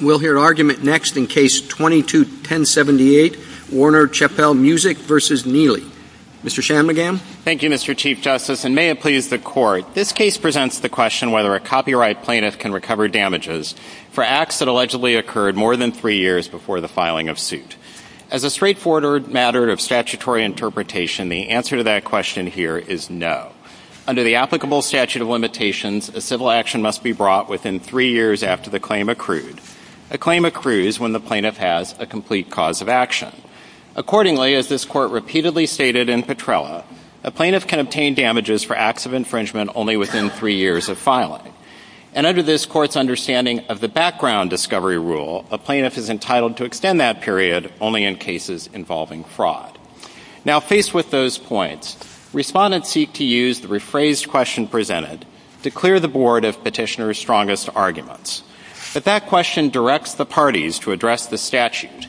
We'll hear argument next in Case 22-1078, Warner Chappell Music v. Nealy. Mr. Shanmugam? Thank you, Mr. Chief Justice, and may it please the Court, this case presents the question whether a copyright plaintiff can recover damages for acts that allegedly occurred more than three years before the filing of suit. As a straightforward matter of statutory interpretation, the answer to that question here is no. Under the applicable statute of limitations, a civil action must be brought within three years after the claim accrued. A claim accrues when the plaintiff has a complete cause of action. Accordingly, as this Court repeatedly stated in Petrella, a plaintiff can obtain damages for acts of infringement only within three years of filing. And under this Court's understanding of the background discovery rule, a plaintiff is entitled to extend that period only in cases involving fraud. Now faced with those points, respondents seek to use the rephrased question presented to But that question directs the parties to address the statute,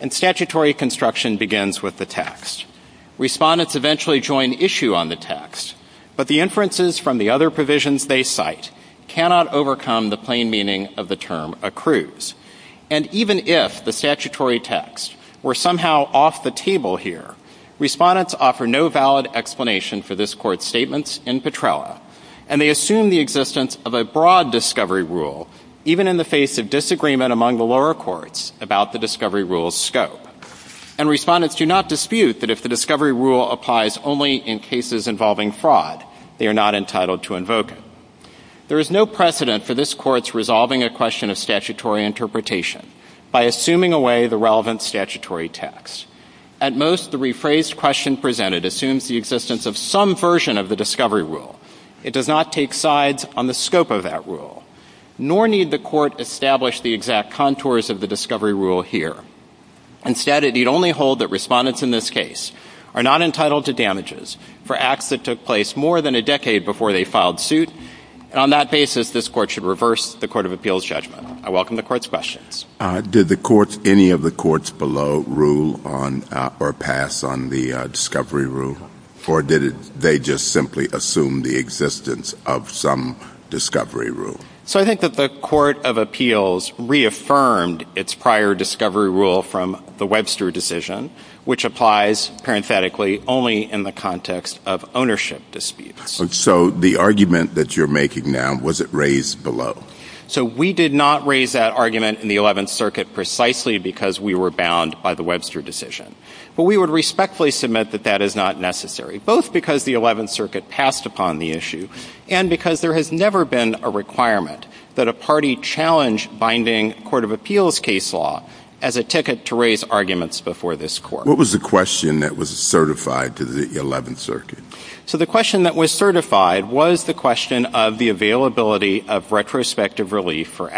and statutory construction begins with the text. Respondents eventually join issue on the text, but the inferences from the other provisions they cite cannot overcome the plain meaning of the term accrues. And even if the statutory text were somehow off the table here, respondents offer no valid explanation for this Court's statements in Petrella, and they assume the existence of a broad discovery rule, even in the face of disagreement among the lower courts about the discovery rule's scope. And respondents do not dispute that if the discovery rule applies only in cases involving fraud, they are not entitled to invoke it. There is no precedent for this Court's resolving a question of statutory interpretation by assuming away the relevant statutory text. At most, the rephrased question presented assumes the existence of some version of the discovery rule. It does not take sides on the scope of that rule, nor need the Court establish the exact contours of the discovery rule here. Instead, it need only hold that respondents in this case are not entitled to damages for acts that took place more than a decade before they filed suit, and on that basis, this Court should reverse the Court of Appeals judgment. I welcome the Court's questions. Did the courts, any of the courts below, rule on or pass on the discovery rule, or did they just simply assume the existence of some discovery rule? So I think that the Court of Appeals reaffirmed its prior discovery rule from the Webster decision, which applies, parenthetically, only in the context of ownership disputes. So the argument that you're making now, was it raised below? So we did not raise that argument in the Eleventh Circuit precisely because we were bound by the Webster decision. But we would respectfully submit that that is not necessary, both because the Eleventh Circuit passed upon the issue, and because there has never been a requirement that a party challenge binding Court of Appeals case law as a ticket to raise arguments before this Court. What was the question that was certified to the Eleventh Circuit? So the question that was certified was the question of the availability of retrospective Did not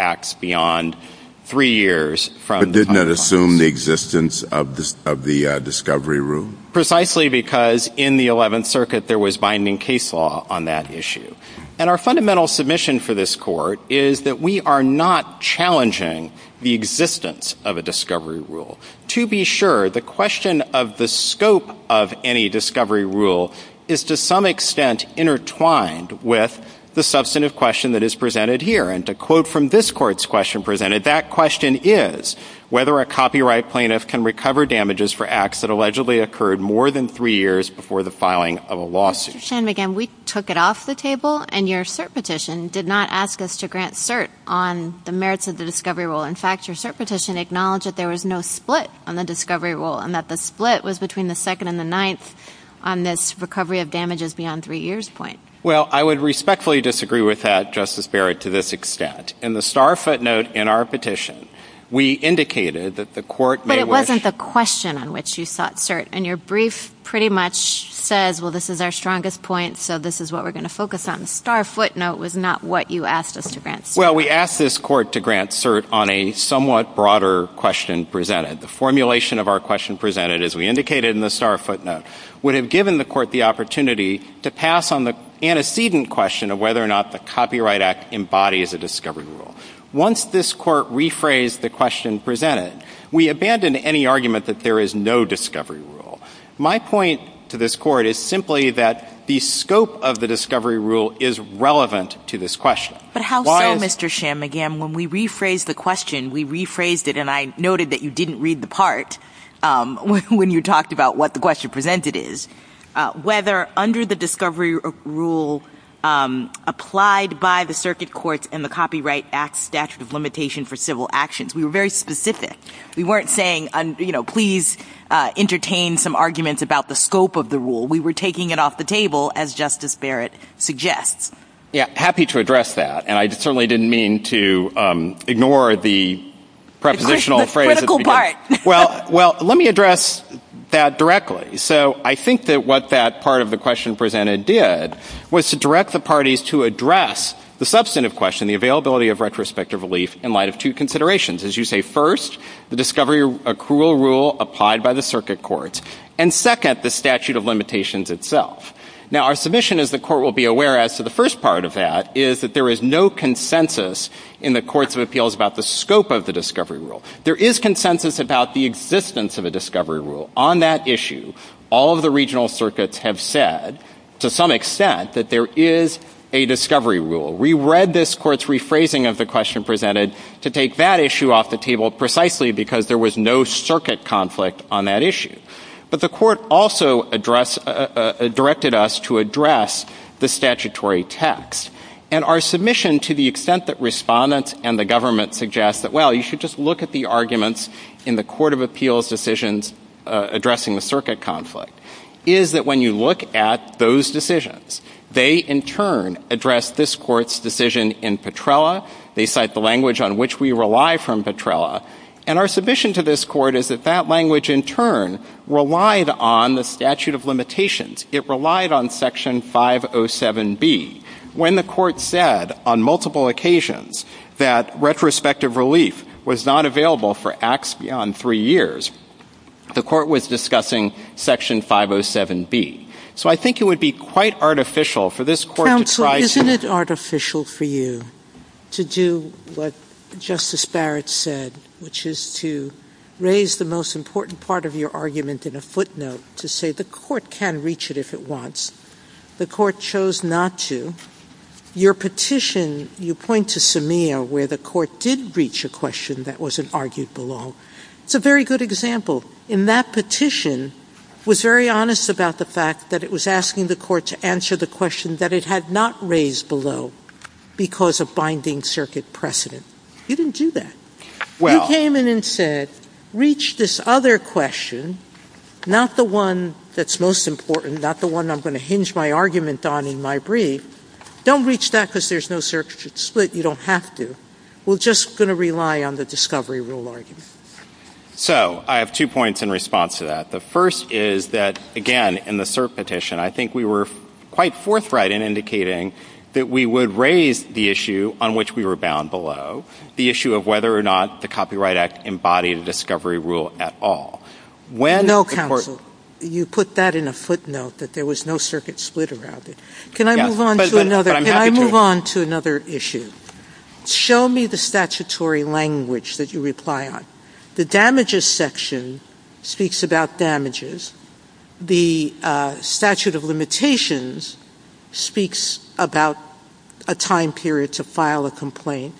assume the existence of the discovery rule? Precisely because in the Eleventh Circuit there was binding case law on that issue. And our fundamental submission for this Court is that we are not challenging the existence of a discovery rule. To be sure, the question of the scope of any discovery rule is to some extent intertwined with the substantive question that is presented here. And to quote from this Court's question presented, that question is whether a copyright plaintiff can recover damages for acts that allegedly occurred more than three years before the filing of a lawsuit. Mr. Shanmugam, we took it off the table, and your cert petition did not ask us to grant cert on the merits of the discovery rule. In fact, your cert petition acknowledged that there was no split on the discovery rule and that the split was between the second and the ninth on this recovery of damages beyond three years point. Well, I would respectfully disagree with that, Justice Barrett, to this extent. In the star footnote in our petition, we indicated that the Court may wish But it wasn't the question on which you sought cert. And your brief pretty much says, well, this is our strongest point, so this is what we're going to focus on. The star footnote was not what you asked us to grant cert on. Well, we asked this Court to grant cert on a somewhat broader question presented. The formulation of our question presented, as we indicated in the star footnote, would have given the Court the opportunity to pass on the antecedent question of whether or not the Copyright Act embodies a discovery rule. Once this Court rephrased the question presented, we abandoned any argument that there is no discovery rule. My point to this Court is simply that the scope of the discovery rule is relevant to this question. But how so, Mr. Shanmugam? When we rephrased the question, we rephrased it, and I noted that you didn't read the part when you talked about what the question presented is, whether under the discovery rule applied by the Circuit Courts and the Copyright Act Statute of Limitation for Civil Actions. We were very specific. We weren't saying, you know, please entertain some arguments about the scope of the rule. We were taking it off the table, as Justice Barrett suggests. Yeah. Happy to address that. And I certainly didn't mean to ignore the prepositional phrase at the beginning. All right. Well, let me address that directly. So I think that what that part of the question presented did was to direct the parties to address the substantive question, the availability of retrospective relief in light of two considerations. As you say, first, the discovery accrual rule applied by the Circuit Courts, and second, the statute of limitations itself. Now our submission, as the Court will be aware as to the first part of that, is that there is no consensus in the Courts of Appeals about the scope of the discovery rule. There is consensus about the existence of a discovery rule. On that issue, all of the regional circuits have said, to some extent, that there is a discovery rule. We read this Court's rephrasing of the question presented to take that issue off the table precisely because there was no circuit conflict on that issue. But the Court also directed us to address the statutory text. And our submission, to the extent that respondents and the government suggest that, well, you should just look at the arguments in the Court of Appeals decisions addressing the circuit conflict, is that when you look at those decisions, they in turn address this Court's decision in Petrella. They cite the language on which we rely from Petrella. And our submission to this Court is that that language, in turn, relied on the statute of limitations. It relied on Section 507B. When the Court said on multiple occasions that retrospective relief was not available for acts beyond three years, the Court was discussing Section 507B. So I think it would be quite artificial for this Court to try to Counsel, isn't it artificial for you to do what Justice Barrett said, which is to raise the most important part of your argument in a footnote, to say the Court can reach it if it wants. The Court chose not to. Your petition, you point to Semea, where the Court did reach a question that wasn't argued below. It's a very good example. In that petition, it was very honest about the fact that it was asking the Court to answer the question that it had not raised below because of binding circuit precedent. You didn't do that. You came in and said, reach this other question, not the one that's most important, not the one I'm going to hinge my argument on in my brief. Don't reach that because there's no circuit split. You don't have to. We're just going to rely on the discovery rule argument. So I have two points in response to that. The first is that, again, in the cert petition, I think we were quite forthright in indicating that we would raise the issue on which we were bound below, the issue of whether or not the Copyright Act embodied a discovery rule at all. No, Counsel, you put that in a footnote, that there was no circuit split around it. Can I move on to another issue? Show me the statutory language that you reply on. The damages section speaks about damages. The statute of limitations speaks about a time period to file a complaint.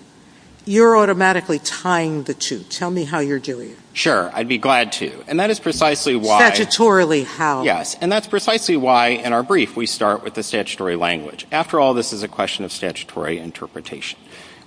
You're automatically tying the two. Tell me how you're doing it. Sure. I'd be glad to. And that is precisely why. Statutorily, how? Yes. And that's precisely why, in our brief, we start with the statutory language. After all, this is a question of statutory interpretation.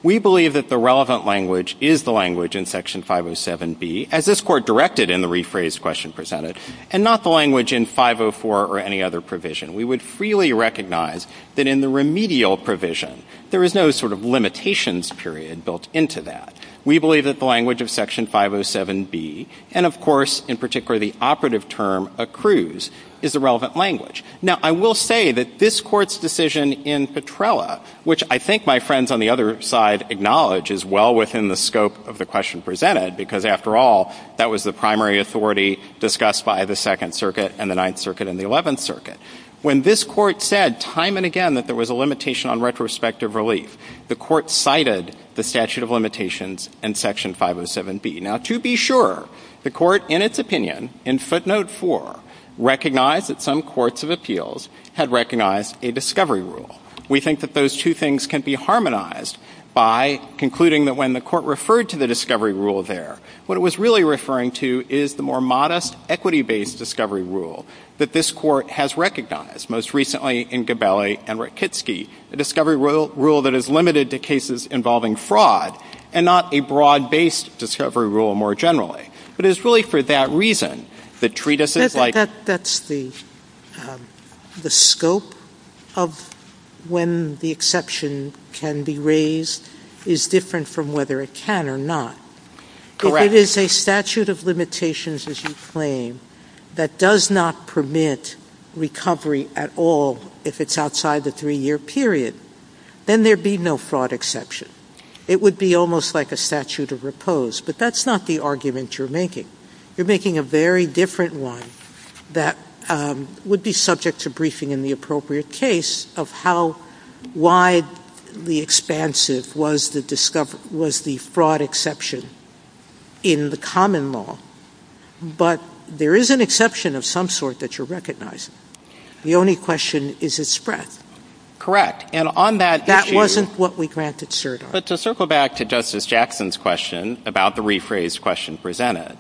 We believe that the relevant language is the language in Section 507B, as this Court directed in the rephrased question presented, and not the language in 504 or any other provision. We would freely recognize that in the remedial provision, there is no sort of limitations period built into that. We believe that the language of Section 507B, and of course, in particular, the operative term, accrues, is the relevant language. Now, I will say that this Court's decision in Petrella, which I think my friends on the other side acknowledge is well within the scope of the question presented, because after all, that was the primary authority discussed by the Second Circuit and the Ninth Circuit and the Eleventh Circuit. When this Court said time and again that there was a limitation on retrospective relief, the Court cited the statute of limitations in Section 507B. Now, to be sure, the Court, in its opinion, in footnote 4, recognized that some courts of appeals had recognized a discovery rule. We think that those two things can be harmonized by concluding that when the Court referred to the discovery rule there, what it was really referring to is the more modest equity-based discovery rule that this Court has recognized. Most recently in Gabelli and Rakitsky, a discovery rule that is limited to cases involving fraud and not a broad-based discovery rule more generally. But it is really for that reason that treatises like Sotomayor. That's the scope of when the exception can be raised is different from whether it can or not. Correct. If it is a statute of limitations, as you claim, that does not permit recovery at all if it's outside the three-year period, then there'd be no fraud exception. It would be almost like a statute of repose. But that's not the argument you're making. You're making a very different one that would be subject to briefing in the appropriate case of how widely expansive was the fraud exception in the common law. But there is an exception of some sort that you're recognizing. The only question is its breadth. Correct. And on that issue— That wasn't what we granted cert on. But to circle back to Justice Jackson's question about the rephrased question presented,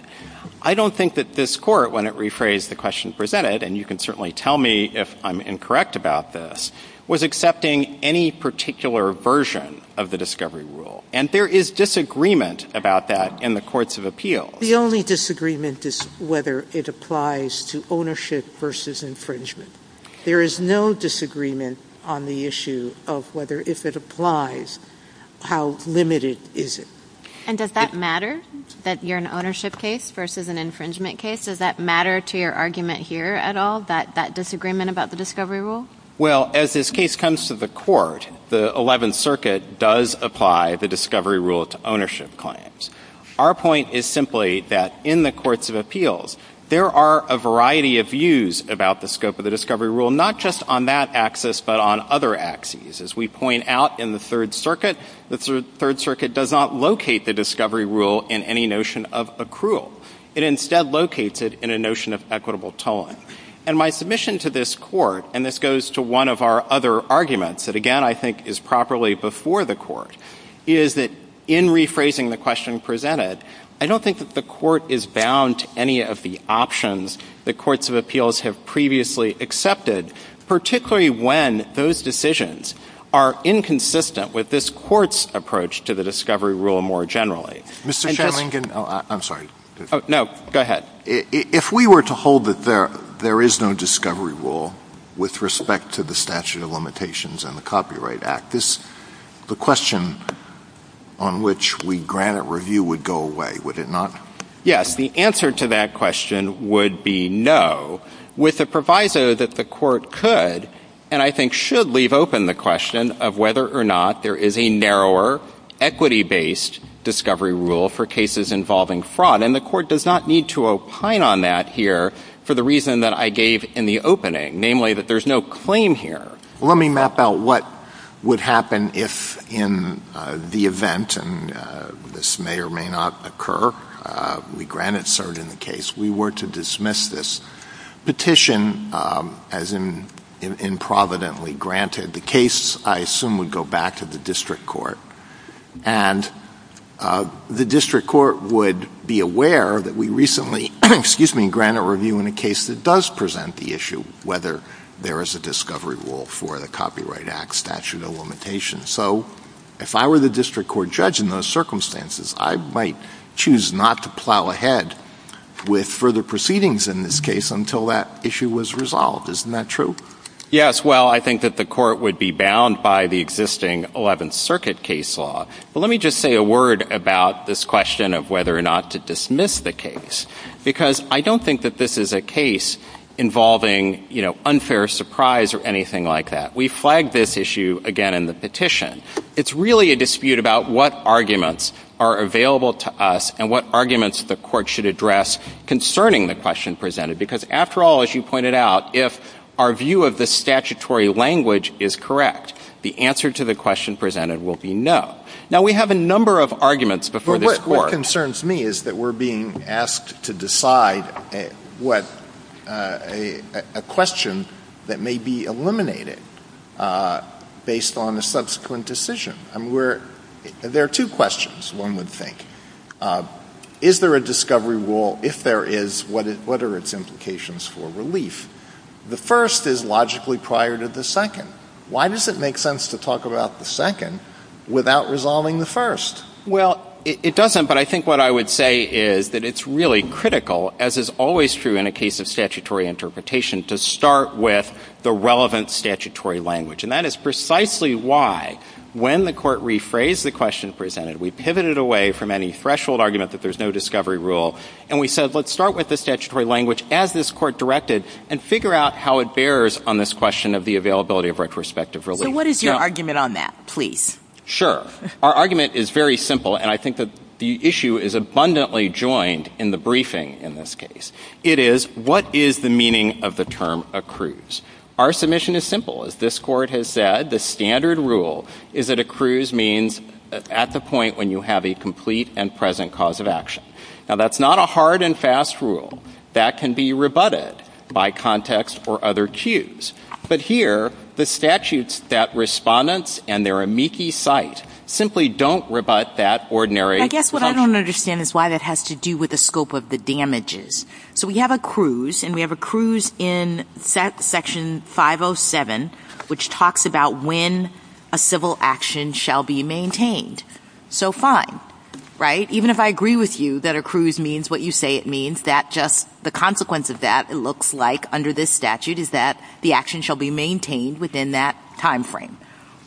I don't think that this Court, when it rephrased the question presented, and you can certainly tell me if I'm incorrect about this, was accepting any particular version of the discovery rule. And there is disagreement about that in the courts of appeals. The only disagreement is whether it applies to ownership versus infringement. There is no disagreement on the issue of whether, if it applies, how limited is it. And does that matter, that you're an ownership case versus an infringement case? Does that matter to your argument here at all, that disagreement about the discovery rule? Well, as this case comes to the Court, the Eleventh Circuit does apply the discovery rule to ownership claims. Our point is simply that in the courts of appeals, there are a variety of views about the scope of the discovery rule, not just on that axis, but on other axes. As we point out in the Third Circuit, the Third Circuit does not locate the discovery rule in any notion of accrual. It instead locates it in a notion of equitable tolling. And my submission to this Court, and this goes to one of our other arguments that, again, I think is properly before the Court, is that in rephrasing the question presented, I don't think that the Court is bound to any of the options that courts of appeals have previously accepted, particularly when those decisions are inconsistent with this Court's approach to the discovery rule more generally. Mr. Shanlingan, I'm sorry. No, go ahead. If we were to hold that there is no discovery rule with respect to the statute of limitations and the Copyright Act, the question on which we grant it review would go away, would it not? Yes. The answer to that question would be no, with the proviso that the Court could, and I think should leave open the question of whether or not there is a narrower equity-based discovery rule for cases involving fraud. And the Court does not need to opine on that here for the reason that I gave in the opening, namely that there's no claim here. Let me map out what would happen if, in the event, and this may or may not occur, we grant it served in the case, we were to dismiss this petition, as in providently granted, the case, I assume, would go back to the District Court. And the District Court would be aware that we recently, excuse me, grant it review in a case that does present the issue, whether there is a discovery rule for the Copyright Act statute of limitations. So if I were the District Court judge in those circumstances, I might choose not to plow ahead with further proceedings in this case until that issue was resolved. Isn't that true? Yes. Well, I guess, well, I think that the Court would be bound by the existing Eleventh Circuit case law. But let me just say a word about this question of whether or not to dismiss the case, because I don't think that this is a case involving, you know, unfair surprise or anything like that. We flagged this issue, again, in the petition. It's really a dispute about what arguments are available to us and what arguments the Court should address concerning the question presented. Because after all, as you pointed out, if our view of the statutory language is correct, the answer to the question presented will be no. Now, we have a number of arguments before this Court. But what concerns me is that we're being asked to decide what a question that may be eliminated based on a subsequent decision. I mean, we're, there are two questions, one would think. Is there a discovery rule? If there is, what are its implications for relief? The first is logically prior to the second. Why does it make sense to talk about the second without resolving the first? Well, it doesn't. But I think what I would say is that it's really critical, as is always true in a case of statutory interpretation, to start with the relevant statutory language. And that is precisely why when the Court rephrased the question presented, we pivoted away from any threshold argument that there's no discovery rule, and we said, let's start with the statutory language as this Court directed, and figure out how it bears on this question of the availability of retrospective relief. So what is your argument on that, please? Sure. Our argument is very simple, and I think that the issue is abundantly joined in the briefing in this case. It is, what is the meaning of the term accrues? Our submission is simple. As this Court has said, the standard rule is that accrues means at the point when you have a complete and present cause of action. Now, that's not a hard and fast rule. That can be rebutted by context or other cues. But here, the statutes that Respondents and their amici cite simply don't rebut that ordinary function. I guess what I don't understand is why that has to do with the scope of the damages. So we have accrues, and we have accrues in Section 507, which talks about when a civil action shall be maintained. So fine. Right? Even if I agree with you that accrues means what you say it means, that just the consequence of that, it looks like under this statute is that the action shall be maintained within that time frame.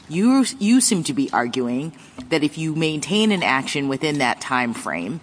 You seem to be arguing that if you maintain an action within that time frame,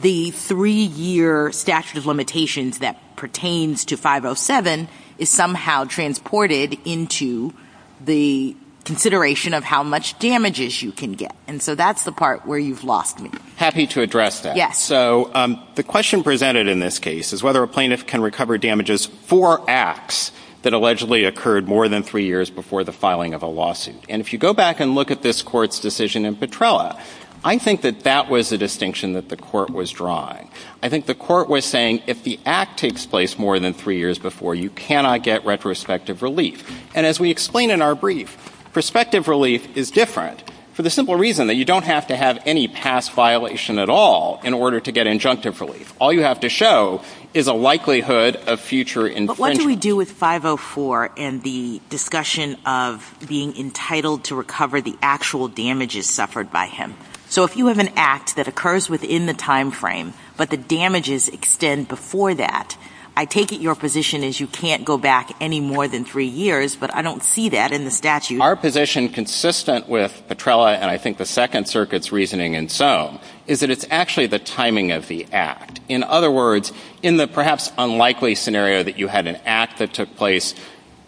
the three-year statute of limitations that pertains to 507 is somehow transported into the consideration of how much damages you can get. And so that's the part where you've lost me. Happy to address that. Yes. So the question presented in this case is whether a plaintiff can recover damages for acts that allegedly occurred more than three years before the filing of a lawsuit. And if you go back and look at this Court's decision in Petrella, I think that that was a distinction that the Court was drawing. I think the Court was saying if the act takes place more than three years before, you cannot get retrospective relief. And as we explain in our brief, prospective relief is different for the simple reason that you don't have to have any past violation at all in order to get injunctive relief. All you have to show is a likelihood of future infringement. But what do we do with 504 and the discussion of being entitled to recover the actual damages suffered by him? So if you have an act that occurs within the time frame, but the damages extend before that, I take it your position is you can't go back any more than three years, but I don't see that in the statute. Our position, consistent with Petrella and I think the Second Circuit's reasoning and so, is that it's actually the timing of the act. In other words, in the perhaps unlikely scenario that you had an act that took place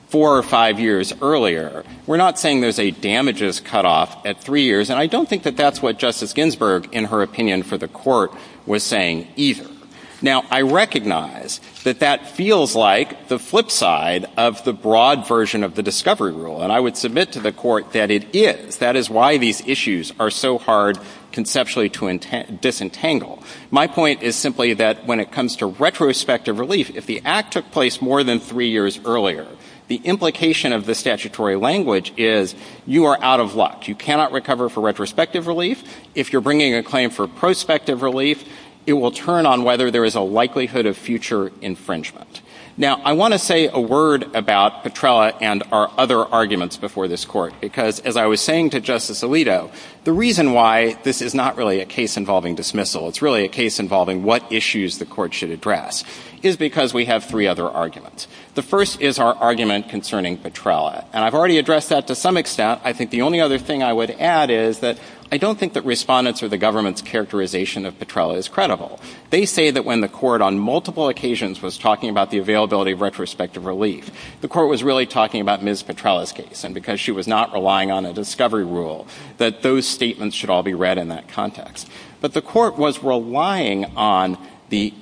four or five years earlier, we're not saying there's a damages cutoff at three years, and I don't think that that's what Justice Ginsburg, in her opinion for the Court, was saying either. Now, I recognize that that feels like the flip side of the broad version of the discovery rule, and I would submit to the Court that it is. That is why these issues are so hard conceptually to disentangle. My point is simply that when it comes to retrospective relief, if the act took place more than three years earlier, the implication of the statutory language is you are out of luck. You cannot recover for retrospective relief. If you're bringing a claim for prospective relief, it will turn on whether there is a likelihood of future infringement. Now, I want to say a word about Petrella and our other arguments before this Court, because as I was saying to Justice Alito, the reason why this is not really a case involving dismissal, it's really a case involving what issues the Court should address, is because we have three other arguments. The first is our argument concerning Petrella, and I've already addressed that to some extent. I think the only other thing I would add is that I don't think that respondents or the government's characterization of Petrella is credible. They say that when the Court on multiple occasions was talking about the availability of retrospective relief, the Court was really talking about Ms. Petrella's case, and because she was not relying on a discovery rule, that those statements should all be read in that context. But the Court was relying on the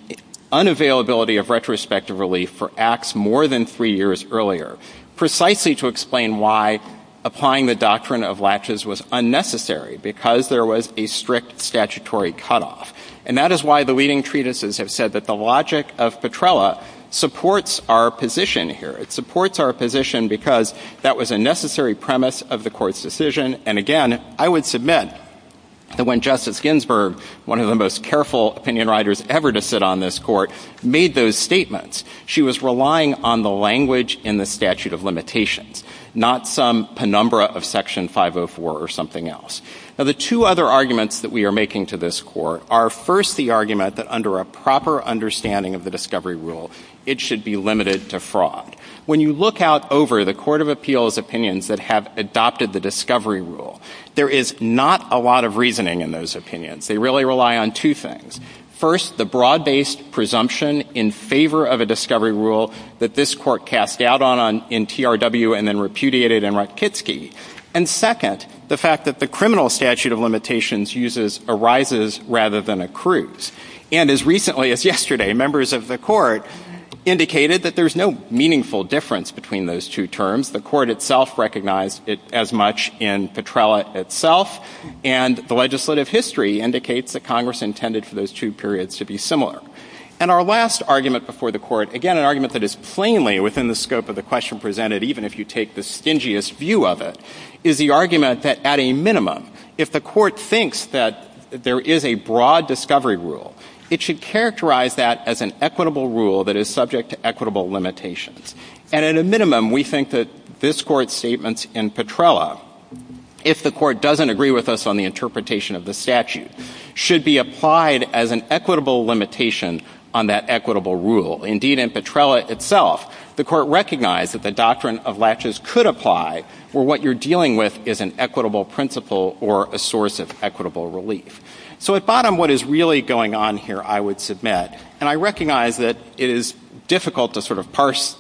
unavailability of retrospective relief for acts more than three years earlier, precisely to explain why applying the doctrine of latches was unnecessary, because there was a strict statutory cutoff. And that is why the leading treatises have said that the logic of Petrella supports our position here. It supports our position because that was a necessary premise of the Court's decision. And again, I would submit that when Justice Ginsburg, one of the most careful opinion writers ever to sit on this Court, made those statements, she was relying on the language in the statute of limitations, not some penumbra of Section 504 or something else. Now, the two other arguments that we are making to this Court are, first, the argument that under a proper understanding of the discovery rule, it should be limited to fraud. When you look out over the Court of Appeals' opinions that have adopted the discovery rule, there is not a lot of reasoning in those opinions. They really rely on two things. First, the broad-based presumption in favor of a discovery rule that this Court cast doubt on in TRW and then repudiated in Rutkitski. And second, the fact that the criminal statute of limitations uses a rises rather than a cruise. And as recently as yesterday, members of the Court indicated that there is no meaningful difference between those two terms. The Court itself recognized it as much in Petrella itself, and the legislative history indicates that Congress intended for those two periods to be similar. And our last argument before the Court, again, an argument that is plainly within the scope of the question presented, even if you take the stingiest view of it, is the argument that at a minimum, if the Court thinks that there is a broad discovery rule, it should characterize that as an equitable rule that is subject to equitable limitations. And at a minimum, we think that this Court's statements in Petrella, if the Court doesn't agree with us on the interpretation of the statute, should be applied as an equitable limitation on that equitable rule. Indeed, in Petrella itself, the Court recognized that the doctrine of latches could apply for what you're dealing with is an equitable principle or a source of equitable relief. So at bottom, what is really going on here, I would submit, and I recognize that it is difficult to sort of parse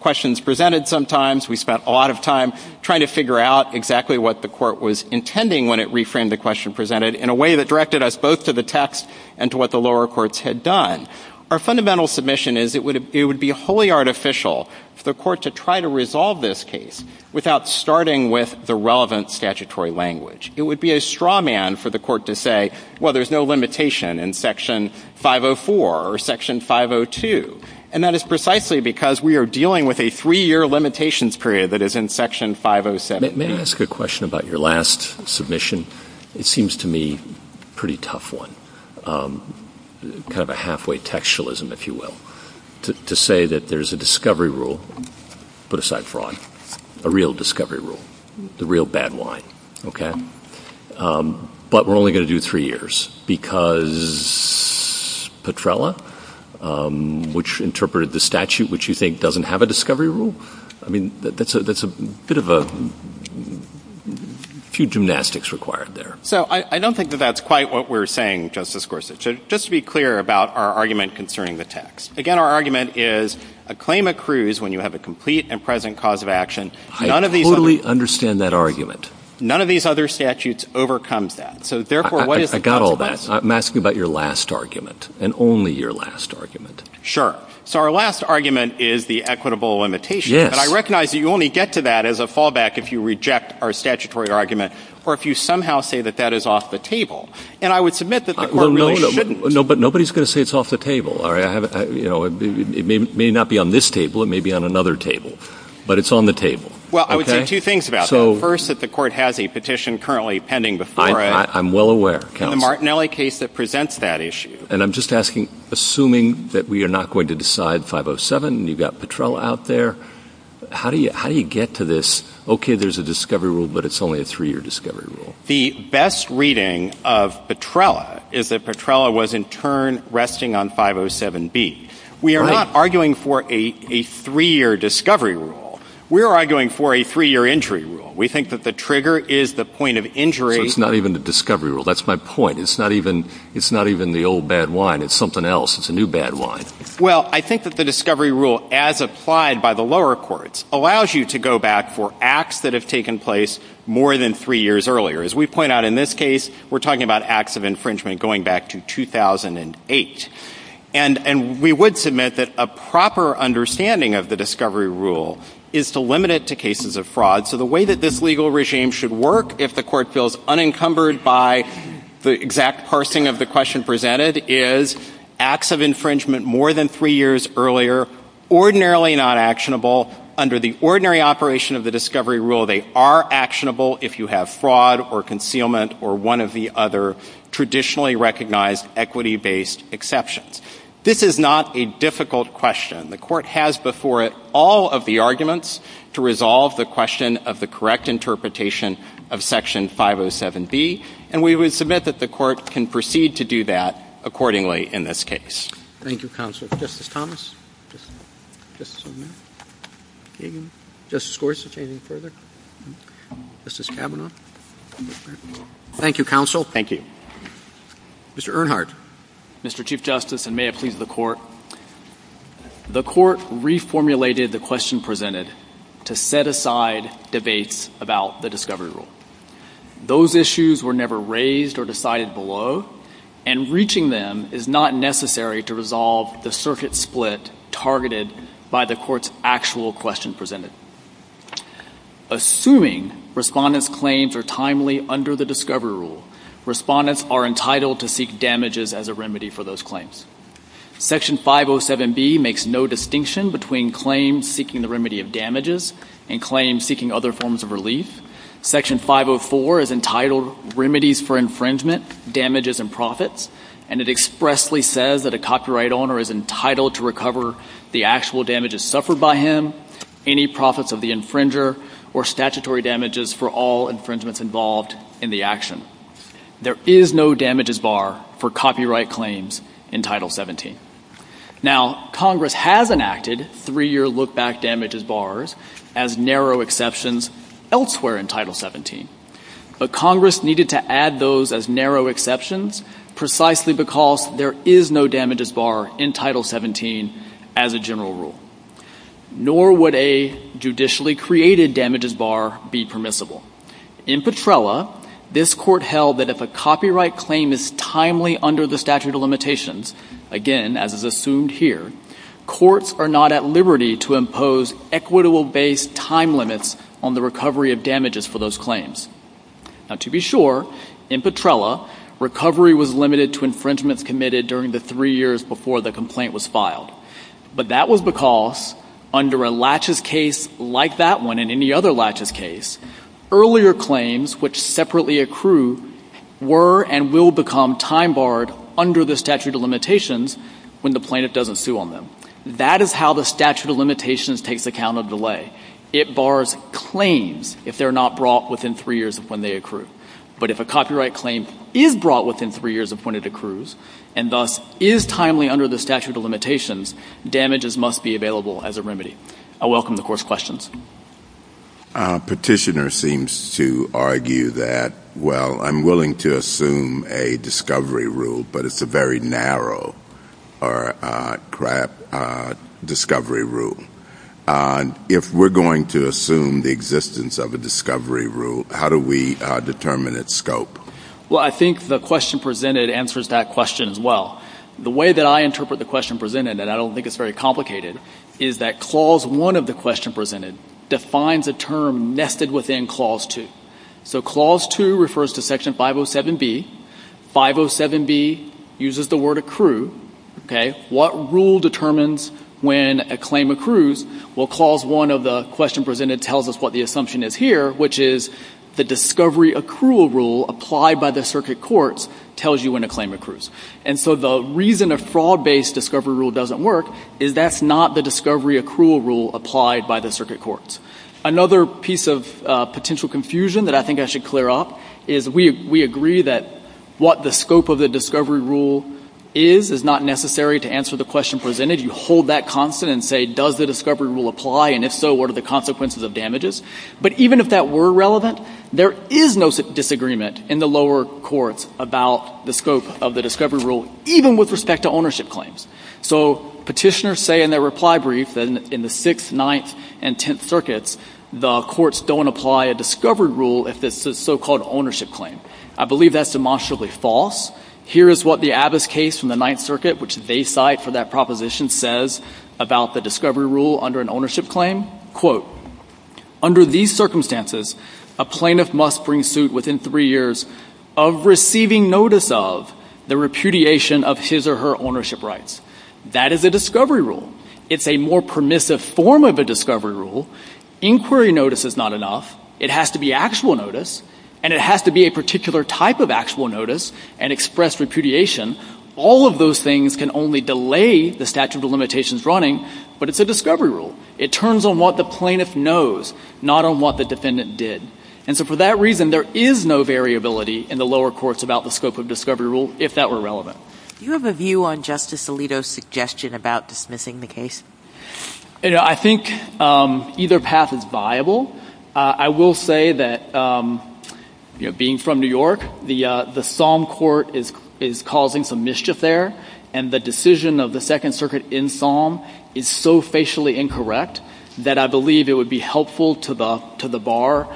questions presented sometimes. We spent a lot of time trying to figure out exactly what the Court was intending when it reframed the question presented in a way that directed us both to the text and to what the lower courts had done. Our fundamental submission is it would be wholly artificial for the Court to try to resolve this case without starting with the relevant statutory language. It would be a straw man for the Court to say, well, there's no limitation in Section 504 or Section 502. And that is precisely because we are dealing with a three-year limitations period that is in Section 507. May I ask a question about your last submission? It seems to me a pretty tough one, kind of a halfway textualism, if you will. To say that there's a discovery rule, put aside fraud, a real discovery rule, the real bad wine, okay? But we're only going to do three years because Petrella, which interpreted the statute, which you think doesn't have a discovery rule? I mean, that's a bit of a few gymnastics required there. So I don't think that that's quite what we're saying, Justice Gorsuch. Just to be clear about our argument concerning the text. Again, our argument is a claim accrues when you have a complete and present cause of action. I totally understand that argument. None of these other statutes overcomes that. So therefore, what is the consequence? I got all that. I'm asking about your last argument, and only your last argument. Sure. So our last argument is the equitable limitation. Yes. And I recognize that you only get to that as a fallback if you reject our statutory argument or if you somehow say that that is off the table. And I would submit that the court really shouldn't. But nobody's going to say it's off the table, all right? It may not be on this table, it may be on another table. But it's on the table. Well, I would say two things about that. First, that the court has a petition currently pending before it. I'm well aware, counsel. And the Martinelli case that presents that issue. And I'm just asking, assuming that we are not going to decide 507 and you've got Petrella out there, how do you get to this, okay, there's a discovery rule, but it's only a three-year discovery rule? The best reading of Petrella is that Petrella was in turn resting on 507B. We are not arguing for a three-year discovery rule. We are arguing for a three-year injury rule. We think that the trigger is the point of injury. So it's not even the discovery rule. That's my point. It's not even the old bad wine. It's something else. It's a new bad wine. Well, I think that the discovery rule, as applied by the lower courts, allows you to go back for acts that have taken place more than three years earlier. As we point out in this case, we're talking about acts of infringement going back to 2008. And we would submit that a proper understanding of the discovery rule is to limit it to cases of fraud. So the way that this legal regime should work, if the court feels unencumbered by the exact parsing of the question presented, is acts of infringement more than three years earlier, ordinarily not actionable. Under the ordinary operation of the discovery rule, they are actionable if you have fraud or concealment or one of the other traditionally recognized equity-based exceptions. This is not a difficult question. The court has before it all of the arguments to resolve the question of the correct interpretation of Section 507B. And we would submit that the court can proceed to do that accordingly in this case. Thank you, counsel. Justice Thomas? Justice O'Connor? Justice Gorsuch? Anything further? Justice Kavanaugh? Thank you, counsel. Thank you. Mr. Earnhardt? Mr. Chief Justice, and may it please the Court, the court reformulated the question presented to set aside debates about the discovery rule. Those issues were never raised or decided below, and reaching them is not necessary to resolve the circuit split targeted by the court's actual question presented. Assuming respondents' claims are timely under the discovery rule, respondents are entitled to seek damages as a remedy for those claims. Section 507B makes no distinction between claims seeking the remedy of damages and claims seeking other forms of relief. Section 504 is entitled Remedies for Infringement, Damages, and Profits. And it expressly says that a copyright owner is entitled to recover the actual damages suffered by him, any profits of the infringer, or statutory damages for all infringements involved in the action. There is no damages bar for copyright claims in Title 17. Now, Congress has enacted three-year look-back damages bars as narrow exceptions elsewhere in Title 17. But Congress needed to add those as narrow exceptions precisely because there is no damages bar in Title 17 as a general rule. Nor would a judicially created damages bar be permissible. In Petrella, this Court held that if a copyright claim is timely under the statute of limitations, again, as is assumed here, courts are not at liberty to impose equitable-based time limits on the recovery of damages for those claims. Now, to be sure, in Petrella, recovery was limited to infringements committed during the three years before the complaint was filed. But that was because under a laches case like that one and any other laches case, earlier claims which separately accrue were and will become time-barred under the statute of limitations when the plaintiff doesn't sue on them. That is how the statute of limitations takes account of delay. It bars claims if they're not brought within three years of when they accrue. But if a copyright claim is brought within three years of when it accrues and thus is timely under the statute of limitations, damages must be available as a remedy. I welcome the Court's questions. Petitioner seems to argue that, well, I'm willing to assume a discovery rule, but it's a very narrow crap discovery rule. If we're going to assume the existence of a discovery rule, how do we determine its scope? Well, I think the question presented answers that question as well. The way that I interpret the question presented, and I don't think it's very complicated, is that Clause 1 of the question presented defines a term nested within Clause 2. So Clause 2 refers to Section 507B. 507B uses the word accrue. What rule determines when a claim accrues? Well, Clause 1 of the question presented tells us what the assumption is here, which is the discovery accrual rule applied by the circuit courts tells you when a claim accrues. And so the reason a fraud-based discovery rule doesn't work is that's not the discovery accrual rule applied by the circuit courts. Another piece of potential confusion that I think I should clear up is we agree that what the scope of the discovery rule is is not necessary to answer the question presented. You hold that constant and say, does the discovery rule apply? And if so, what are the consequences of damages? But even if that were relevant, there is no disagreement in the lower courts about the scope of the discovery rule, even with respect to ownership claims. So petitioners say in their reply brief that in the Sixth, Ninth, and Tenth Circuits, the courts don't apply a discovery rule if it's a so-called ownership claim. I believe that's demonstrably false. Here is what the Abbas case from the Ninth Circuit, which they cite for that proposition, says about the discovery rule under an ownership claim. Quote, under these circumstances, a plaintiff must bring suit within three years of receiving notice of the repudiation of his or her ownership rights. That is a discovery rule. It's a more permissive form of a discovery rule. Inquiry notice is not enough. It has to be actual notice, and it has to be a particular type of actual notice and express repudiation. All of those things can only delay the statute of limitations running, but it's a discovery rule. It turns on what the plaintiff knows, not on what the defendant did. And so for that reason, there is no variability in the lower courts about the scope of discovery rule, if that were relevant. Do you have a view on Justice Alito's suggestion about dismissing the case? I think either path is viable. I will say that, you know, being from New York, the SOM court is causing some mischief there, and the decision of the Second Circuit in SOM is so facially incorrect that I believe it would be helpful to the bar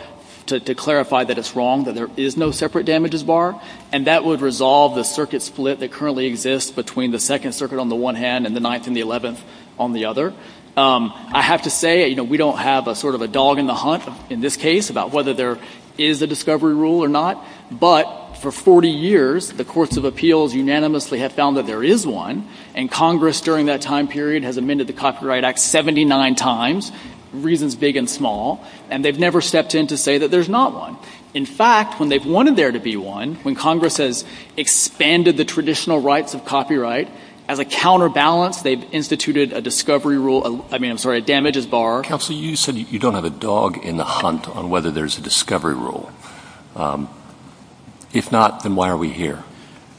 to clarify that it's wrong, that there is no separate damages bar, and that would resolve the circuit split that currently exists between the Second Circuit on the one hand and the Ninth and the Eleventh on the other. I have to say, you know, we don't have a sort of a dog in the hunt in this case about whether there is a discovery rule or not, but for 40 years, the courts of appeals unanimously have found that there is one, and Congress during that time period has amended the Copyright Act 79 times, reasons big and small, and they've never stepped in to say that there's not one. In fact, when they've wanted there to be one, when Congress has expanded the traditional rights of copyright, as a counterbalance, they've instituted a discovery rule, I mean, I'm sorry, a damages bar. Counsel, you said you don't have a dog in the hunt on whether there's a discovery rule. If not, then why are we here?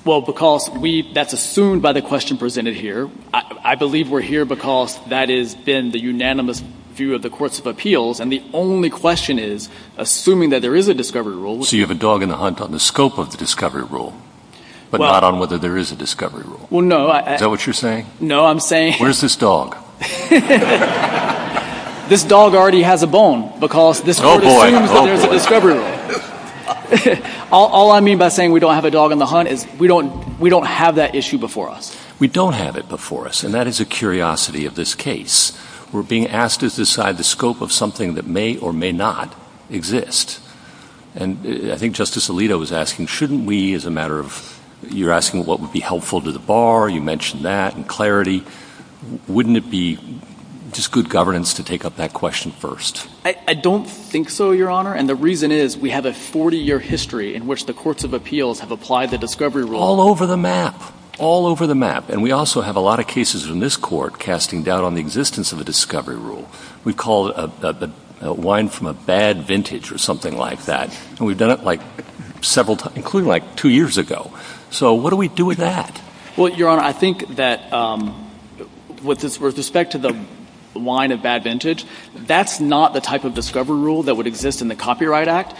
Well, because that's assumed by the question presented here. I believe we're here because that has been the unanimous view of the courts of appeals, and the only question is, assuming that there is a discovery rule. So you have a dog in the hunt on the scope of the discovery rule, but not on whether there is a discovery rule. Well, no. Is that what you're saying? No, I'm saying Where's this dog? This dog already has a bone because this court assumes that there's a discovery rule. All I mean by saying we don't have a dog in the hunt is we don't have that issue before us. We don't have it before us, and that is a curiosity of this case. We're being asked to decide the scope of something that may or may not exist, and I think Justice would be helpful to the bar. You mentioned that in clarity. Wouldn't it be just good governance to take up that question first? I don't think so, Your Honor, and the reason is we have a 40-year history in which the courts of appeals have applied the discovery rule. All over the map. All over the map. And we also have a lot of cases in this court casting doubt on the existence of a discovery rule. We call it a wine from a bad vintage or something like that, and we've done it like several times, including like two years ago. So what do we do with that? Well, Your Honor, I think that with respect to the wine of bad vintage, that's not the type of discovery rule that would exist in the Copyright Act,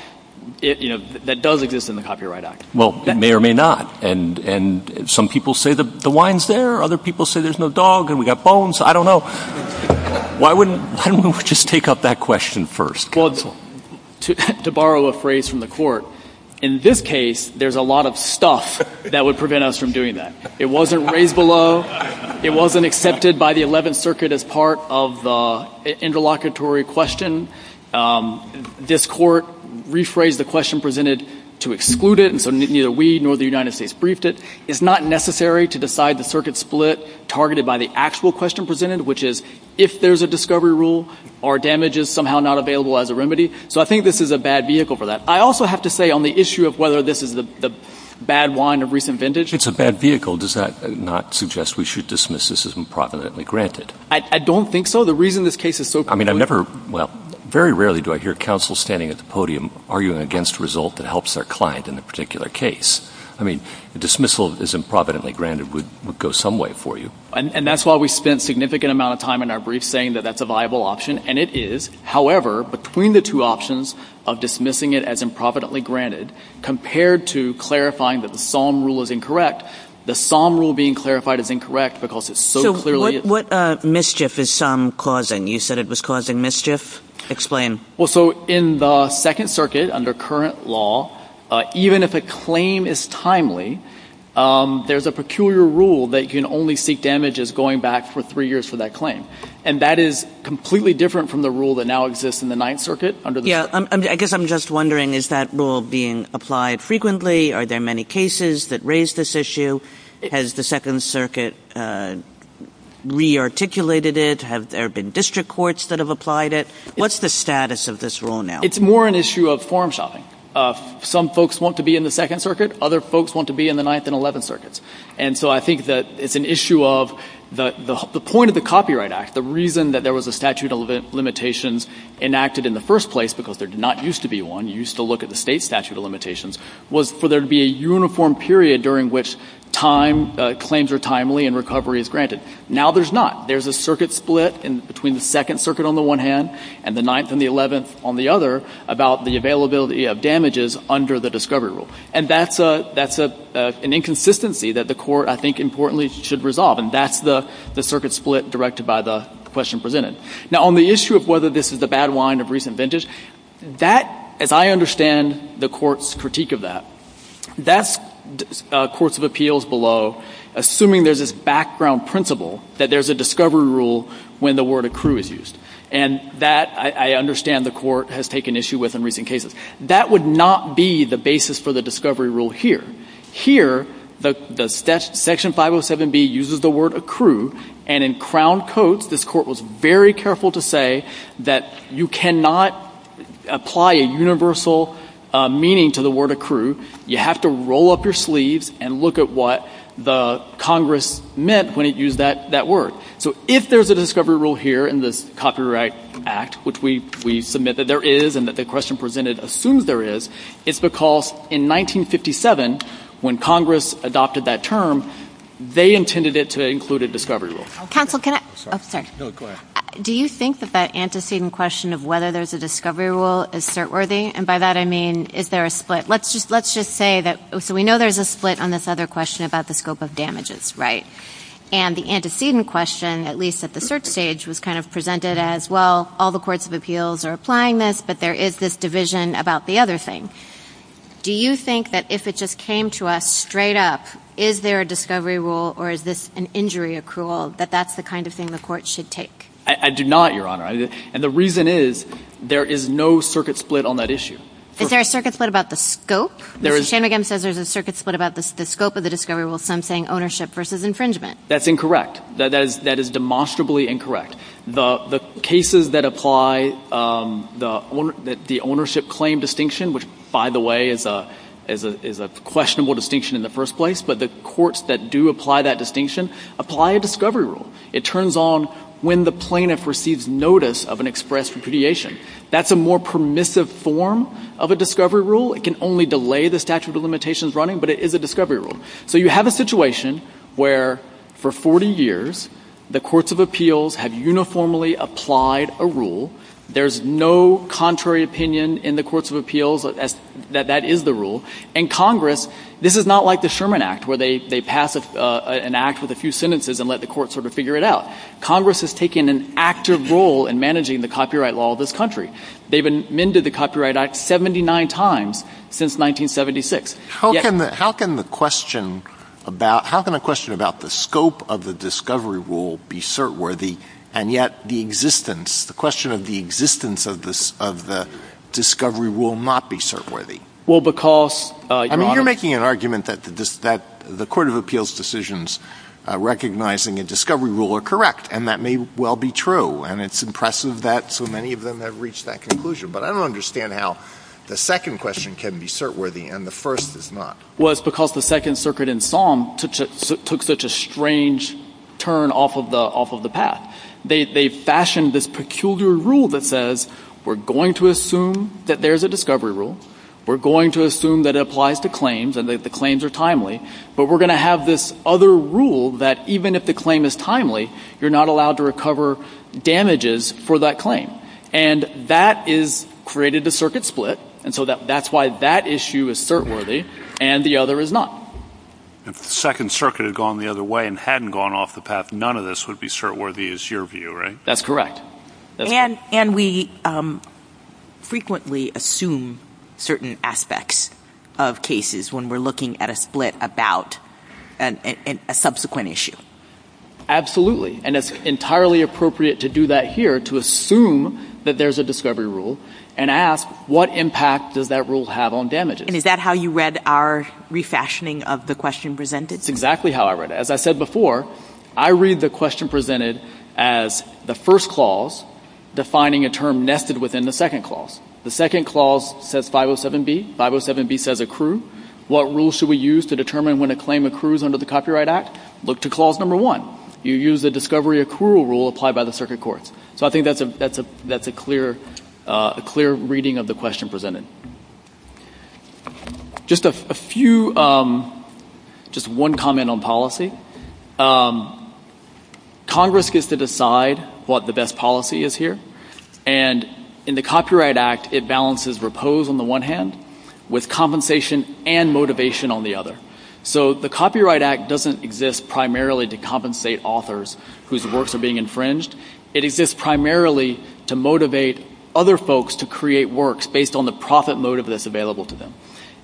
you know, that does exist in the Copyright Act. Well, it may or may not, and some people say the wine's there. Other people say there's no dog and we've got bones. I don't know. Why wouldn't we just take up that question first? To borrow a phrase from the court, in this case, there's a lot of stuff that would prevent us from doing that. It wasn't raised below. It wasn't accepted by the Eleventh Circuit as part of the interlocutory question. This court rephrased the question presented to exclude it, and so neither we nor the United States briefed it. It's not necessary to decide the circuit split targeted by the actual question presented, which is, if there's a discovery rule, are damages somehow not available as a remedy? So I think this is a bad vehicle for that. I also have to say on the issue of whether this is the bad wine of recent vintage— It's a bad vehicle. Does that not suggest we should dismiss this as improvidently granted? I don't think so. The reason this case is so— I mean, I've never—well, very rarely do I hear counsel standing at the podium arguing against a result that helps their client in a particular case. I mean, dismissal as improvidently granted would go some way for you. And that's why we spent a significant amount of time in our brief saying that that's a viable option, and it is. However, between the two options of dismissing it as improvidently granted compared to clarifying that the SOM rule is incorrect, the SOM rule being clarified as incorrect because it so clearly— So what mischief is SOM causing? You said it was causing mischief. Explain. Well, so in the Second Circuit, under current law, even if a claim is timely, there's a peculiar rule that can only seek damage as going back for three years for that claim. And that is completely different from the rule that now exists in the Ninth Circuit under the— Yeah. I guess I'm just wondering, is that rule being applied frequently? Are there many cases that raise this issue? Has the Second Circuit re-articulated it? Have there been district courts that have applied it? What's the status of this rule now? It's more an issue of form shopping. Some folks want to be in the Second Circuit. Other folks want to be in the Ninth and Eleventh Circuits. And so I think that it's an issue of the point of the Copyright Act. The reason that there was a statute of limitations enacted in the first place, because there did not used to be one, you used to look at the state statute of limitations, was for there to be a uniform period during which time—claims are timely and recovery is granted. Now there's not. There's a circuit split between the Second Circuit on the one hand and the Ninth and the Eleventh on the other about the availability of damages under the discovery rule. And that's an inconsistency that the Court, I think, importantly, should resolve. And that's the circuit split directed by the question presented. Now, on the issue of whether this is the bad wine of recent vintage, that, as I understand the Court's critique of that, that's courts of appeals below, assuming there's this background principle that there's a discovery rule when the word accrue is used. And that, I understand, the Court has taken issue with in recent cases. That would not be the basis for the discovery rule here. Here, the Section 507B uses the word accrue. And in Crown Codes, this Court was very careful to say that you cannot apply a universal meaning to the word accrue. You have to roll up your sleeves and look at what the Congress meant when it used that word. So if there's a discovery rule here in this Copyright Act, which we submit that there is, it's because in 1957, when Congress adopted that term, they intended it to include a discovery rule. Counsel, can I — Oh, sorry. No, go ahead. Do you think that that antecedent question of whether there's a discovery rule is cert-worthy? And by that, I mean, is there a split? Let's just — let's just say that — so we know there's a split on this other question about the scope of damages, right? And the antecedent question, at least at the search stage, was kind of presented as, well, all the courts of appeals are applying this, but there is this division about the other thing. Do you think that if it just came to us straight up, is there a discovery rule, or is this an injury accrual, that that's the kind of thing the Court should take? I do not, Your Honor. And the reason is, there is no circuit split on that issue. Is there a circuit split about the scope? There is — Mr. Shanmugam says there's a circuit split about the scope of the discovery rule, some saying ownership versus infringement. That's incorrect. That is demonstrably incorrect. The cases that apply the ownership claim distinction, which, by the way, is a questionable distinction in the first place, but the courts that do apply that distinction, apply a discovery rule. It turns on when the plaintiff receives notice of an expressed repudiation. That's a more permissive form of a discovery rule. It can only delay the statute of limitations running, but it is a discovery rule. So you have a situation where, for 40 years, the courts of appeals have uniformly applied a rule. There's no contrary opinion in the courts of appeals that that is the rule. And Congress — this is not like the Sherman Act, where they pass an act with a few sentences and let the court sort of figure it out. Congress has taken an active role in managing the copyright law of this country. They've amended the Copyright Act 79 times since 1976. How can the question about — how can a question about the scope of the discovery rule be cert-worthy, and yet the existence — the question of the existence of the discovery rule not be cert-worthy? Well, because — I mean, you're making an argument that the court of appeals decisions recognizing a discovery rule are correct, and that may well be true. And it's impressive that so many of them have reached that conclusion. But I don't understand how the second question can be cert-worthy, and the first is not. Well, it's because the Second Circuit in Somme took such a strange turn off of the path. They fashioned this peculiar rule that says, we're going to assume that there's a discovery rule. We're going to assume that it applies to claims, and that the claims are timely. But we're going to have this other rule that even if the claim is timely, you're not allowed to recover damages for that claim. And that is — created a circuit split. And so that's why that issue is cert-worthy, and the other is not. If the Second Circuit had gone the other way and hadn't gone off the path, none of this would be cert-worthy, is your view, right? That's correct. And we frequently assume certain aspects of cases when we're looking at a split about a subsequent issue. Absolutely. And it's entirely appropriate to do that here, to assume that there's a discovery rule, and ask, what impact does that rule have on damages? And is that how you read our refashioning of the question presented? That's exactly how I read it. As I said before, I read the question presented as the first clause defining a term nested within the second clause. The second clause says 507B. 507B says accrue. What rules should we use to determine when a claim accrues under the Copyright Act? Look to clause number one. You use the discovery accrual rule applied by the Circuit Courts. So I think that's a clear reading of the question presented. Just one comment on policy. Congress gets to decide what the best policy is here. And in the Copyright Act, it balances repose on the one hand with compensation and motivation on the other. So the Copyright Act doesn't exist primarily to compensate authors whose works are being infringed. It exists primarily to motivate other folks to create works based on the profit motive that's available to them.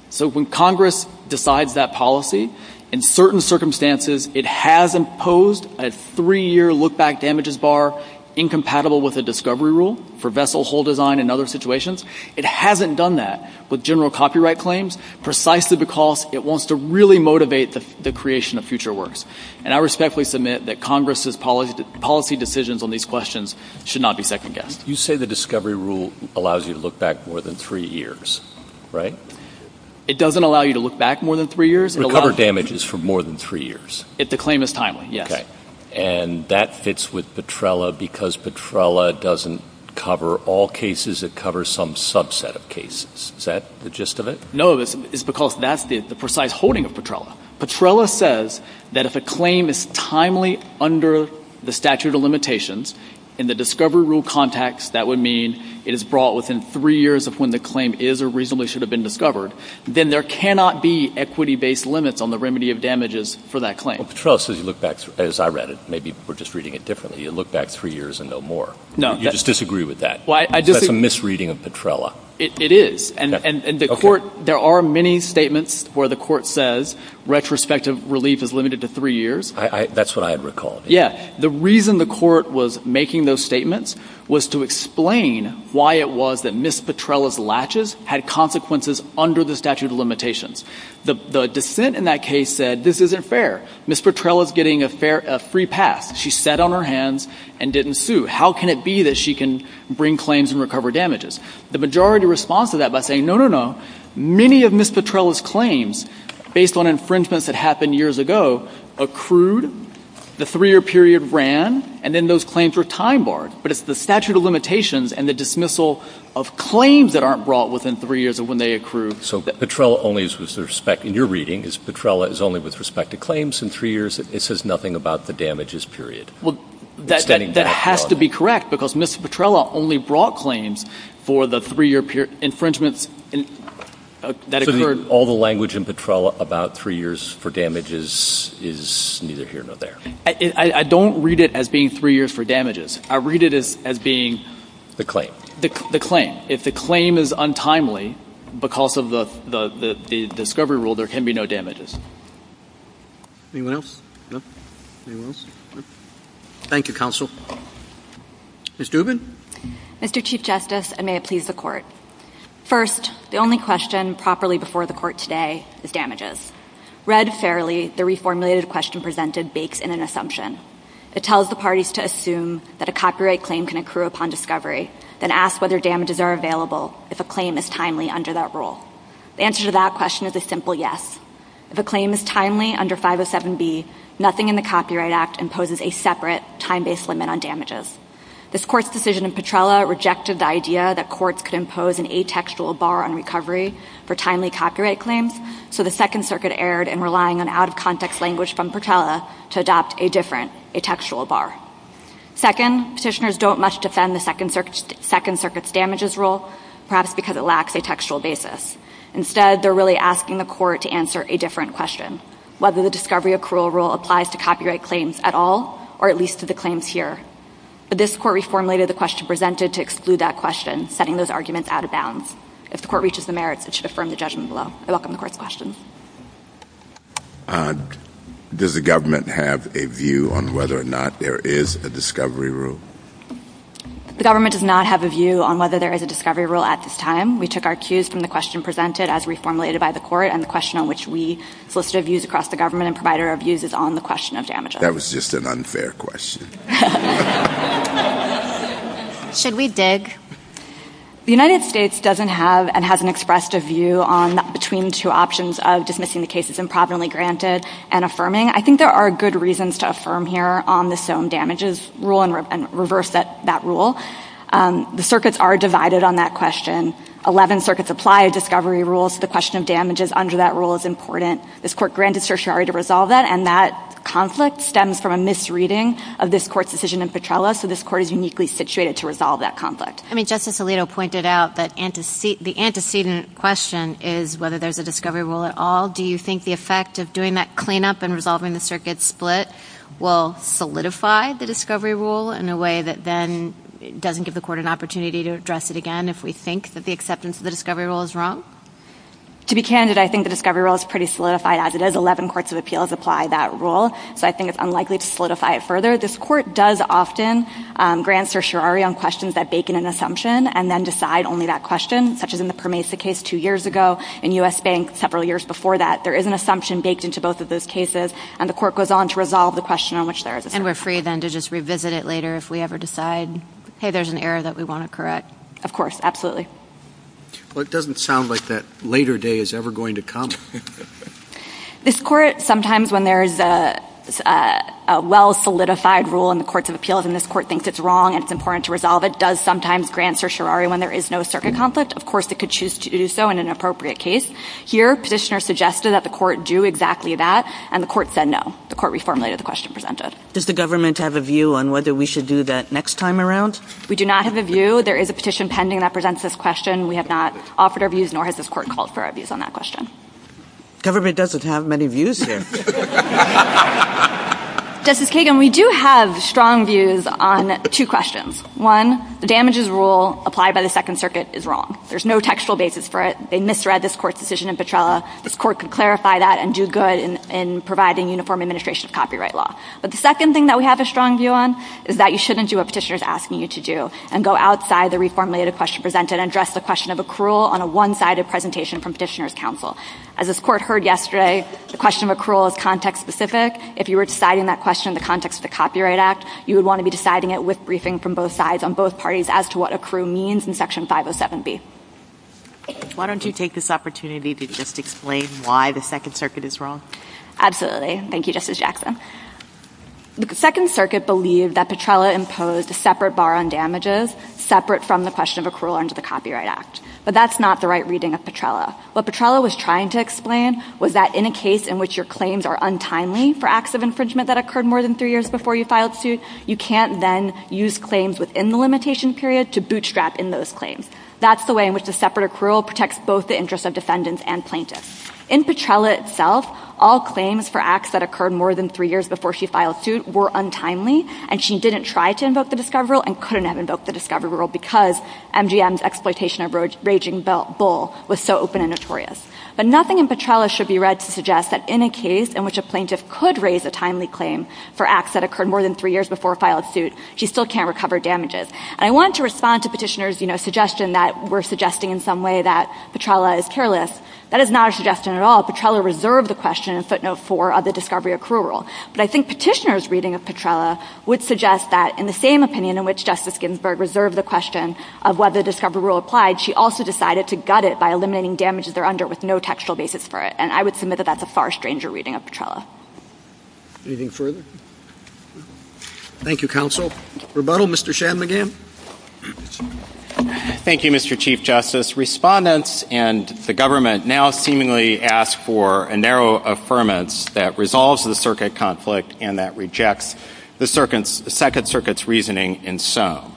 So when Congress decides that policy, in certain circumstances, it has imposed a three-year lookback damages bar incompatible with a discovery rule for vessel hull design and other situations. It hasn't done that with general copyright claims, precisely because it wants to really motivate the creation of future works. And I respectfully submit that Congress's policy decisions on these questions should not be second-guessed. You say the discovery rule allows you to look back more than three years, right? It doesn't allow you to look back more than three years. Recover damages for more than three years. If the claim is timely, yes. And that fits with Petrella because Petrella doesn't cover all cases. It covers some subset of cases. Is that the gist of it? No, it's because that's the precise holding of Petrella. Petrella says that if a claim is timely under the statute of limitations, in the discovery rule context, that would mean it is brought within three years of when the claim is or reasonably should have been discovered, then there cannot be equity-based limits on the remedy of damages for that claim. Well, Petrella says you look back, as I read it, maybe we're just reading it differently, you look back three years and no more. No. You just disagree with that. That's a misreading of Petrella. It is. And the court, there are many statements where the court says retrospective relief is limited to three years. That's what I had recalled. Yeah. The reason the court was making those statements was to explain why it was that Ms. Petrella's latches had consequences under the statute of limitations. The dissent in that case said this isn't fair. Ms. Petrella is getting a free pass. She sat on her hands and didn't sue. How can it be that she can bring claims and recover damages? The majority responds to that by saying, no, no, no. Many of Ms. Petrella's claims, based on infringements that happened years ago, accrued, the three-year period ran, and then those claims were time-barred. But it's the statute of limitations and the dismissal of claims that aren't brought within three years of when they accrued. So Petrella only is with respect to, in your reading, is Petrella is only with respect to claims in three years. It says nothing about the damages period. Well, that has to be correct, because Ms. Petrella only brought claims three years before the three-year period infringements that occurred. So all the language in Petrella about three years for damages is neither here nor there. I don't read it as being three years for damages. I read it as being... The claim. The claim. If the claim is untimely because of the discovery rule, there can be no damages. Anyone else? No? Anyone else? No? Thank you, counsel. Ms. Dubin. Mr. Chief Justice, and may it please the Court. First, the only question properly before the Court today is damages. Read fairly, the reformulated question presented bakes in an assumption. It tells the parties to assume that a copyright claim can accrue upon discovery, then asks whether damages are available if a claim is timely under that rule. The answer to that question is a simple yes. If a claim is timely under 507B, nothing in the Copyright Act imposes a separate time-based limit on damages. This Court's decision in Petrella rejected the idea that courts could impose an atextual bar on recovery for timely copyright claims, so the Second Circuit erred in relying on out-of-context language from Petrella to adopt a different atextual bar. Second, petitioners don't much defend the Second Circuit's damages rule, perhaps because it lacks a textual basis. Instead, they're really asking the Court to answer a different question, whether the discovery accrual rule applies to copyright claims at all, or at least to the claims here. But this Court reformulated the question presented to exclude that question, setting those arguments out of bounds. If the Court reaches the merits, it should affirm the judgment below. I welcome the Court's question. Does the government have a view on whether or not there is a discovery rule? The government does not have a view on whether there is a discovery rule at this time. We took our cues from the question presented as reformulated by the Court, and the question on which we solicited views across the government and provided our views is on the question of damages. That was just an unfair question. Should we dig? The United States doesn't have and hasn't expressed a view on between two options of dismissing the case as improvidently granted and affirming. I think there are good reasons to affirm here on the SOM damages rule and reverse that rule. The circuits are divided on that question. Eleven circuits apply a discovery rule, so the question of damages under that rule is important. This Court granted certiorari to resolve that, and that conflict stems from a misreading of this Court's decision in Petrella, so this Court is uniquely situated to resolve that conflict. Justice Alito pointed out that the antecedent question is whether there is a discovery rule at all. Do you think the effect of doing that cleanup and resolving the circuit split will solidify the discovery rule in a way that then doesn't give the Court an opportunity to address it again if we think that the acceptance of the discovery rule is wrong? To be candid, I think the discovery rule is pretty solidified as it is. Eleven courts of appeals apply that rule, so I think it's unlikely to solidify it further. This Court does often grant certiorari on questions that bake in an assumption and then decide only that question, such as in the Permesa case two years ago, in U.S. Bank several years before that. There is an assumption baked into both of those cases, and the Court goes on to resolve the question on which there is an assumption. And we're free then to just revisit it later if we ever decide, hey, there's an error that we want to correct. Of course. Absolutely. Well, it doesn't sound like that later day is ever going to come. This Court, sometimes when there is a well-solidified rule in the courts of appeals and this Court thinks it's wrong and it's important to resolve it, does sometimes grant certiorari when there is no circuit conflict. Of course, it could choose to do so in an appropriate case. Here, petitioners suggested that the Court do exactly that, and the Court said no. The Court reformulated the question presented. Does the government have a view on whether we should do that next time around? We do not have a view. There is a petition pending that presents this question. We have not offered our views, nor has this Court called for our views on that question. Government doesn't have many views here. Justice Kagan, we do have strong views on two questions. One, the damages rule applied by the Second Circuit is wrong. There's no textual basis for it. They misread this Court's decision in Petrella. This Court could clarify that and do good in providing uniform administration of copyright law. But the second thing that we have a strong view on is that you shouldn't do what petitioner is asking you to do and go outside the reformulated question presented and address the question of accrual on a one-sided presentation from petitioner's counsel. As this Court heard yesterday, the question of accrual is context-specific. If you were deciding that question in the context of the Copyright Act, you would want to be deciding it with briefing from both sides on both parties as to what accrual means in Section 507B. Why don't you take this opportunity to just explain why the Second Circuit is wrong? Absolutely. Thank you, Justice Jackson. The Second Circuit believed that Petrella imposed a separate bar on damages separate from the question of accrual under the Copyright Act. But that's not the right reading of Petrella. What Petrella was trying to explain was that in a case in which your claims are untimely for acts of infringement that occurred more than three years before you filed suit, you can't then use claims within the limitation period to bootstrap in those claims. That's the way in which the separate accrual protects both the interests of defendants and plaintiffs. In Petrella itself, all claims for acts that occurred more than three years before she filed suit were untimely, and she didn't try to invoke the discovery rule and couldn't have invoked the discovery rule because MGM's exploitation of raging bull was so open and notorious. But nothing in Petrella should be read to suggest that in a case in which a plaintiff could raise a timely claim for acts that occurred more than three years before she filed suit, she still can't recover damages. And I want to respond to Petitioner's suggestion that we're suggesting in some way that Petrella is careless. That is not a suggestion at all. Petrella reserved the question in footnote four of the discovery accrual rule. But I think Petitioner's reading of Petrella would suggest that in the same opinion in which Justice Ginsburg reserved the question of whether the discovery rule applied, she also decided to gut it by eliminating damages there under it with no textual basis for it. And I would submit that that's a far stranger reading of Petrella. Anything further? Thank you, counsel. Rebuttal, Mr. Shanmugam. Thank you, Mr. Chief Justice. Respondents and the government now seemingly ask for a narrow affirmance that resolves the circuit conflict and that rejects the Second Circuit's reasoning in Some.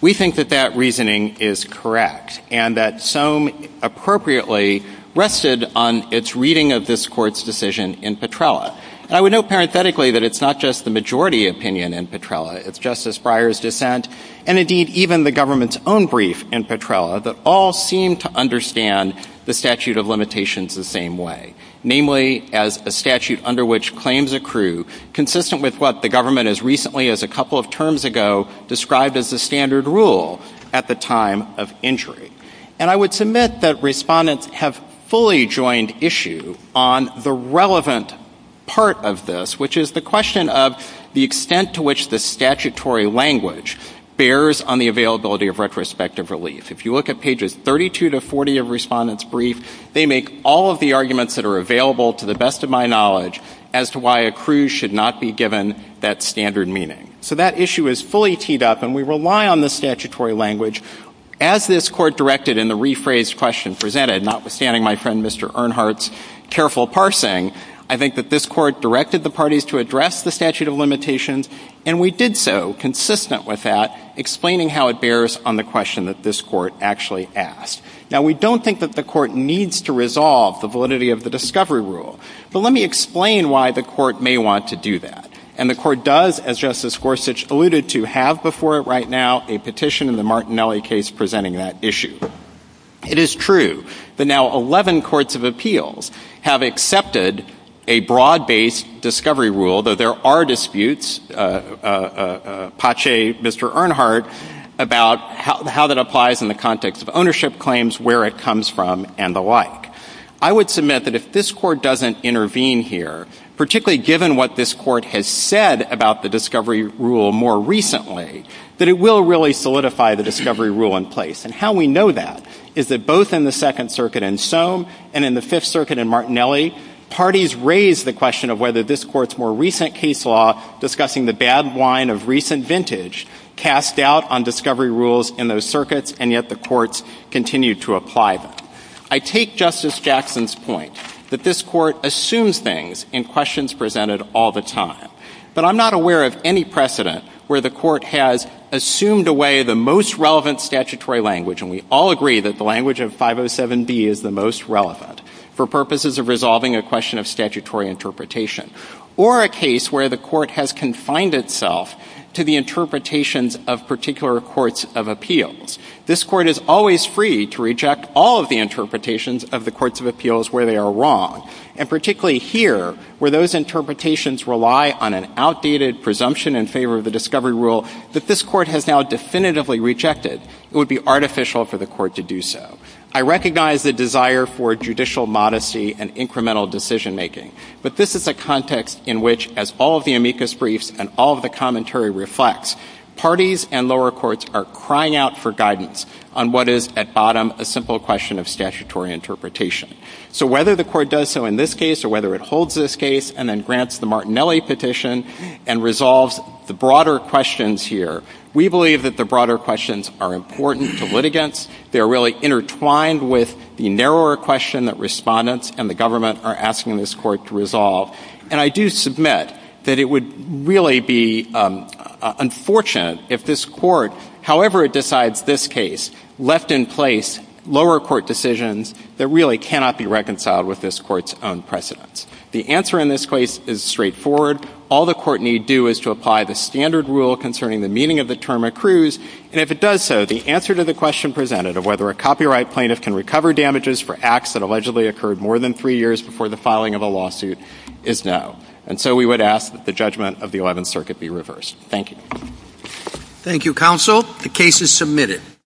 We think that that reasoning is correct and that Some appropriately rested on its reading of this Court's decision in Petrella. And I would note parenthetically that it's not just the majority opinion in Petrella. It's Justice Breyer's dissent and, indeed, even the government's own brief in Petrella that all seem to understand the statute of limitations the same way, namely as a statute under which claims accrue consistent with what the government as recently as a couple of terms ago described as the standard rule at the time of injury. And I would submit that respondents have fully joined issue on the relevant part of this, which is the question of the extent to which the statutory language bears on the availability of retrospective relief. If you look at pages 32 to 40 of Respondent's brief, they make all of the arguments that are available to the best of my knowledge as to why accrues should not be given that standard meaning. So that issue is fully teed up, and we rely on the statutory language. As this Court directed in the rephrased question presented, notwithstanding my friend Mr. Earnhardt's careful parsing, I think that this Court directed the parties to address the statute of limitations, and we did so consistent with that, explaining how it bears on the question that this Court actually asked. Now, we don't think that the Court needs to resolve the validity of the discovery rule, but let me explain why the Court may want to do that. And the Court does, as Justice Gorsuch alluded to, have before it right now a petition in the Martinelli case presenting that issue. It is true that now 11 courts of appeals have accepted a broad-based discovery rule, though there are disputes, patché Mr. Earnhardt, about how that applies in the context of ownership claims, where it comes from, and the like. I would submit that if this Court doesn't intervene here, particularly given what this Court has said about the discovery rule more recently, and how we know that is that both in the Second Circuit in Soam and in the Fifth Circuit in Martinelli, parties raised the question of whether this Court's more recent case law, discussing the bad wine of recent vintage, cast doubt on discovery rules in those circuits, and yet the courts continued to apply them. I take Justice Jackson's point that this Court assumes things in questions presented all the time, but I'm not aware of any precedent where the Court has assumed away the most relevant statutory language, and we all agree that the language of 507B is the most relevant, for purposes of resolving a question of statutory interpretation, or a case where the Court has confined itself to the interpretations of particular courts of appeals. This Court is always free to reject all of the interpretations of the courts of appeals where they are wrong, and particularly here, where those interpretations rely on an outdated presumption in favor of the discovery rule that this Court has now definitively rejected. It would be artificial for the Court to do so. I recognize the desire for judicial modesty and incremental decision making, but this is a context in which, as all of the amicus briefs and all of the commentary reflects, parties and lower courts are crying out for guidance on what is, at bottom, a simple question of statutory interpretation. So whether the Court does so in this case or whether it holds this case and then grants the Martinelli petition and resolves the broader questions here, we believe that the broader questions are important to litigants. They are really intertwined with the narrower question that respondents and the government are asking this Court to resolve. And I do submit that it would really be unfortunate if this Court, however it decides this case, left in place lower court decisions that really cannot be reconciled with this Court's own precedents. The answer in this case is straightforward. All the Court need do is to apply the standard rule concerning the meaning of the term accrues, and if it does so, the answer to the question presented of whether a copyright plaintiff can recover damages for acts that allegedly occurred more than three years before the filing of a lawsuit is no. And so we would ask that the judgment of the Eleventh Circuit be reversed. Thank you. Thank you, Counsel. The case is submitted.